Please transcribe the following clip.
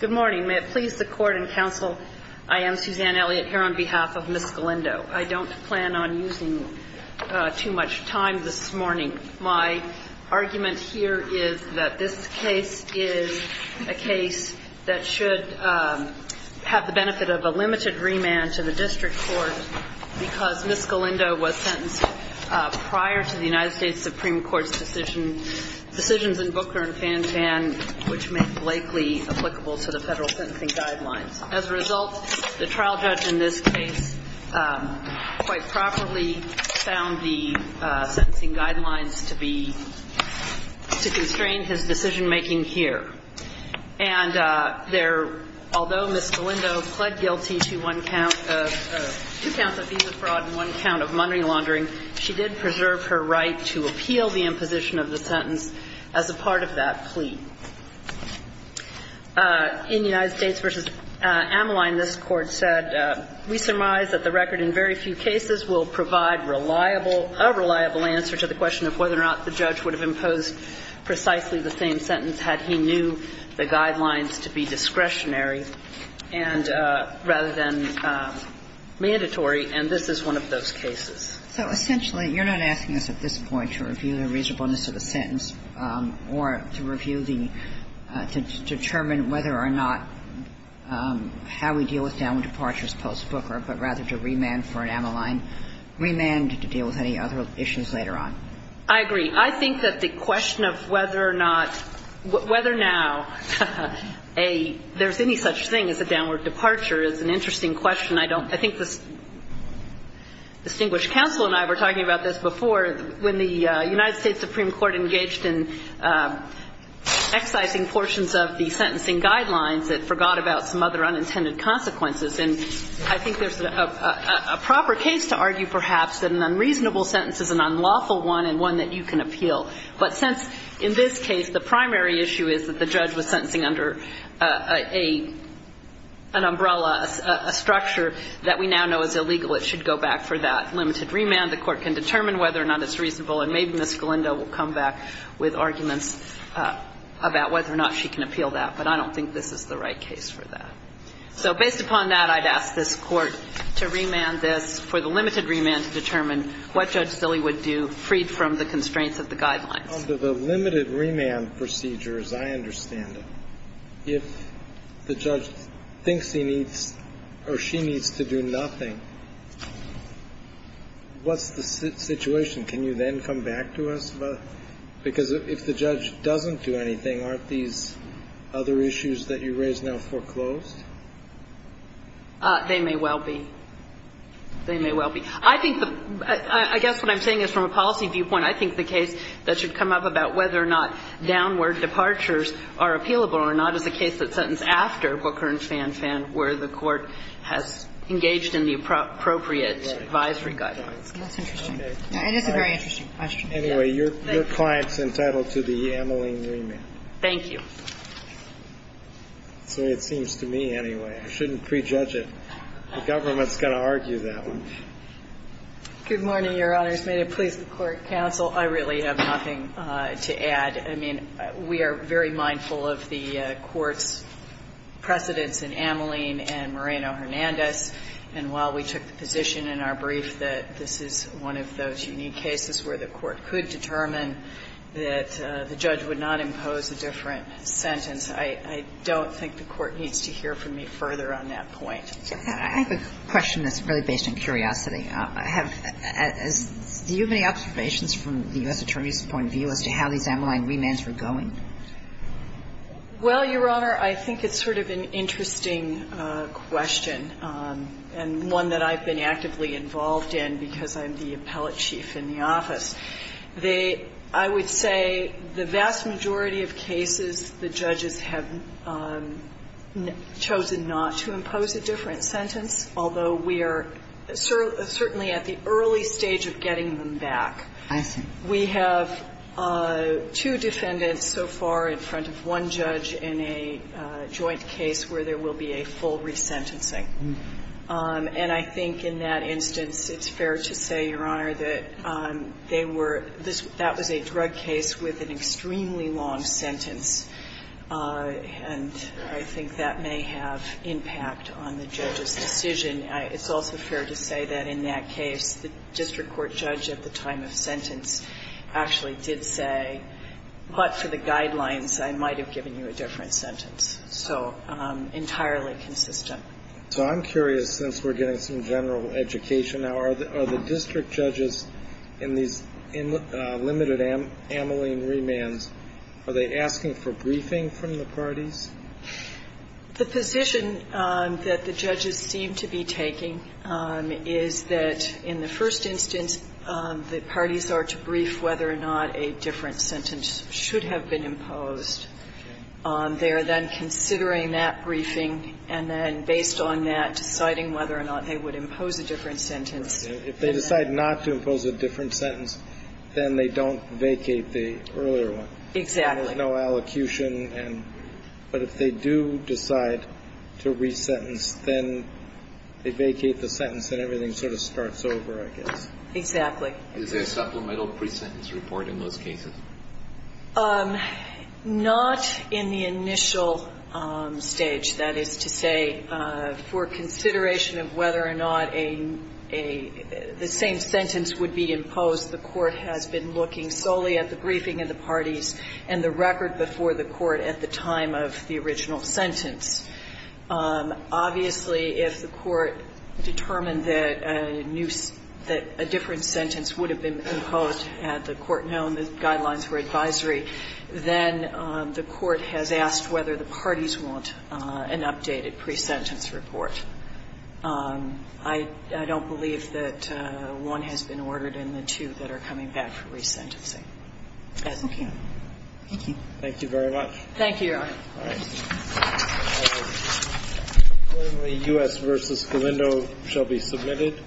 Good morning. May it please the court and counsel, I am Suzanne Elliott here on behalf of Ms. Galindo. I don't plan on using too much time this morning. My argument here is that this case is a case that should have the benefit of a limited remand to the district court because Ms. Galindo was sentenced prior to the remand, which made Blakely applicable to the federal sentencing guidelines. As a result, the trial judge in this case quite properly found the sentencing guidelines to be, to constrain his decision-making here. And there, although Ms. Galindo pled guilty to one count of, two counts of visa fraud and one count of money In United States v. Ameline, this Court said, we surmise that the record in very few cases will provide reliable, a reliable answer to the question of whether or not the judge would have imposed precisely the same sentence had he knew the guidelines to be discretionary and rather than mandatory, and this is one of those cases. So essentially, you're not asking us at this point to review the reasonableness of the sentence or to review the, to determine whether or not how we deal with downward departures post-Booker, but rather to remand for an Ameline remand to deal with any other issues later on. I agree. I think that the question of whether or not, whether now a, there's any such thing as a downward departure is an interesting question. I don't, I think the distinguished counsel and I were talking about this before when the United States Supreme Court engaged in excising portions of the sentencing guidelines that forgot about some other unintended consequences. And I think there's a proper case to argue, perhaps, that an unreasonable sentence is an unlawful one and one that you can appeal. But since, in this case, the primary issue is that the judge was sentencing under a, an umbrella, a structure that we now know is illegal, it should go back for that limited remand. The Court can determine whether or not it's reasonable, and maybe Ms. Galindo will come back with arguments about whether or not she can appeal that, but I don't think this is the right case for that. So based upon that, I'd ask this Court to remand this for the limited remand to determine what Judge Silley would do, freed from the constraints of the guidelines. The limited remand procedure, as I understand it, if the judge thinks he needs or she needs to do nothing, what's the situation? Can you then come back to us? Because if the judge doesn't do anything, aren't these other issues that you raise now foreclosed? They may well be. They may well be. I think the – I guess what I'm saying is from a policy viewpoint, I think the case that should come up about whether or not downward departures are appealable or not is a case that's sentenced after Booker and Fan Fan, where the Court has engaged in the appropriate advisory guidelines. That's interesting. It is a very interesting question. Anyway, your client's entitled to the amyling remand. Thank you. So it seems to me, anyway, I shouldn't prejudge it. The government's going to argue that one. Good morning, Your Honors. May it please the Court. Counsel, I really have nothing to add. I mean, we are very mindful of the Court's precedence in amyling and Moreno-Hernandez. And while we took the position in our brief that this is one of those unique cases where the Court could determine that the judge would not impose a different sentence, I don't think the Court needs to hear from me further on that point. I have a question that's really based on curiosity. Do you have any observations from the U.S. Attorney's point of view as to how these amyling remands were going? Well, Your Honor, I think it's sort of an interesting question, and one that I've been actively involved in because I'm the appellate chief in the office. I would say the vast majority of cases, the judges have chosen not to impose a different sentence, although we are certainly at the early stage of getting them back. I see. We have two defendants so far in front of one judge in a joint case where there will be a full resentencing. And I think in that instance it's fair to say, Your Honor, that they were – that was a drug case with an extremely long sentence, and I think that may have impact on the judge's decision. It's also fair to say that in that case the district court judge at the time of sentence actually did say, but for the guidelines I might have given you a different sentence. So entirely consistent. So I'm curious, since we're getting some general education now, are the district judges in these limited amyling remands, are they asking for briefing from the parties? The position that the judges seem to be taking is that in the first instance the parties are to brief whether or not a different sentence should have been imposed. They are then considering that briefing, and then based on that, deciding whether or not they would impose a different sentence. Right. If they decide not to impose a different sentence, then they don't vacate the earlier one. Exactly. There's no allocution. But if they do decide to resentence, then they vacate the sentence and everything sort of starts over, I guess. Exactly. Is there a supplemental presentence report in those cases? Not in the initial stage. That is to say, for consideration of whether or not the same sentence would be imposed, the court has been looking solely at the briefing of the parties and the record before the court at the time of the original sentence. Obviously, if the court determined that a different sentence would have been imposed, had the court known the guidelines were advisory, then the court has asked whether the parties want an updated presentence report. I don't believe that one has been ordered and the two that are coming back for resentencing. Thank you. Thank you very much. Thank you, Your Honor. All right. When the U.S. v. Galindo shall be submitted.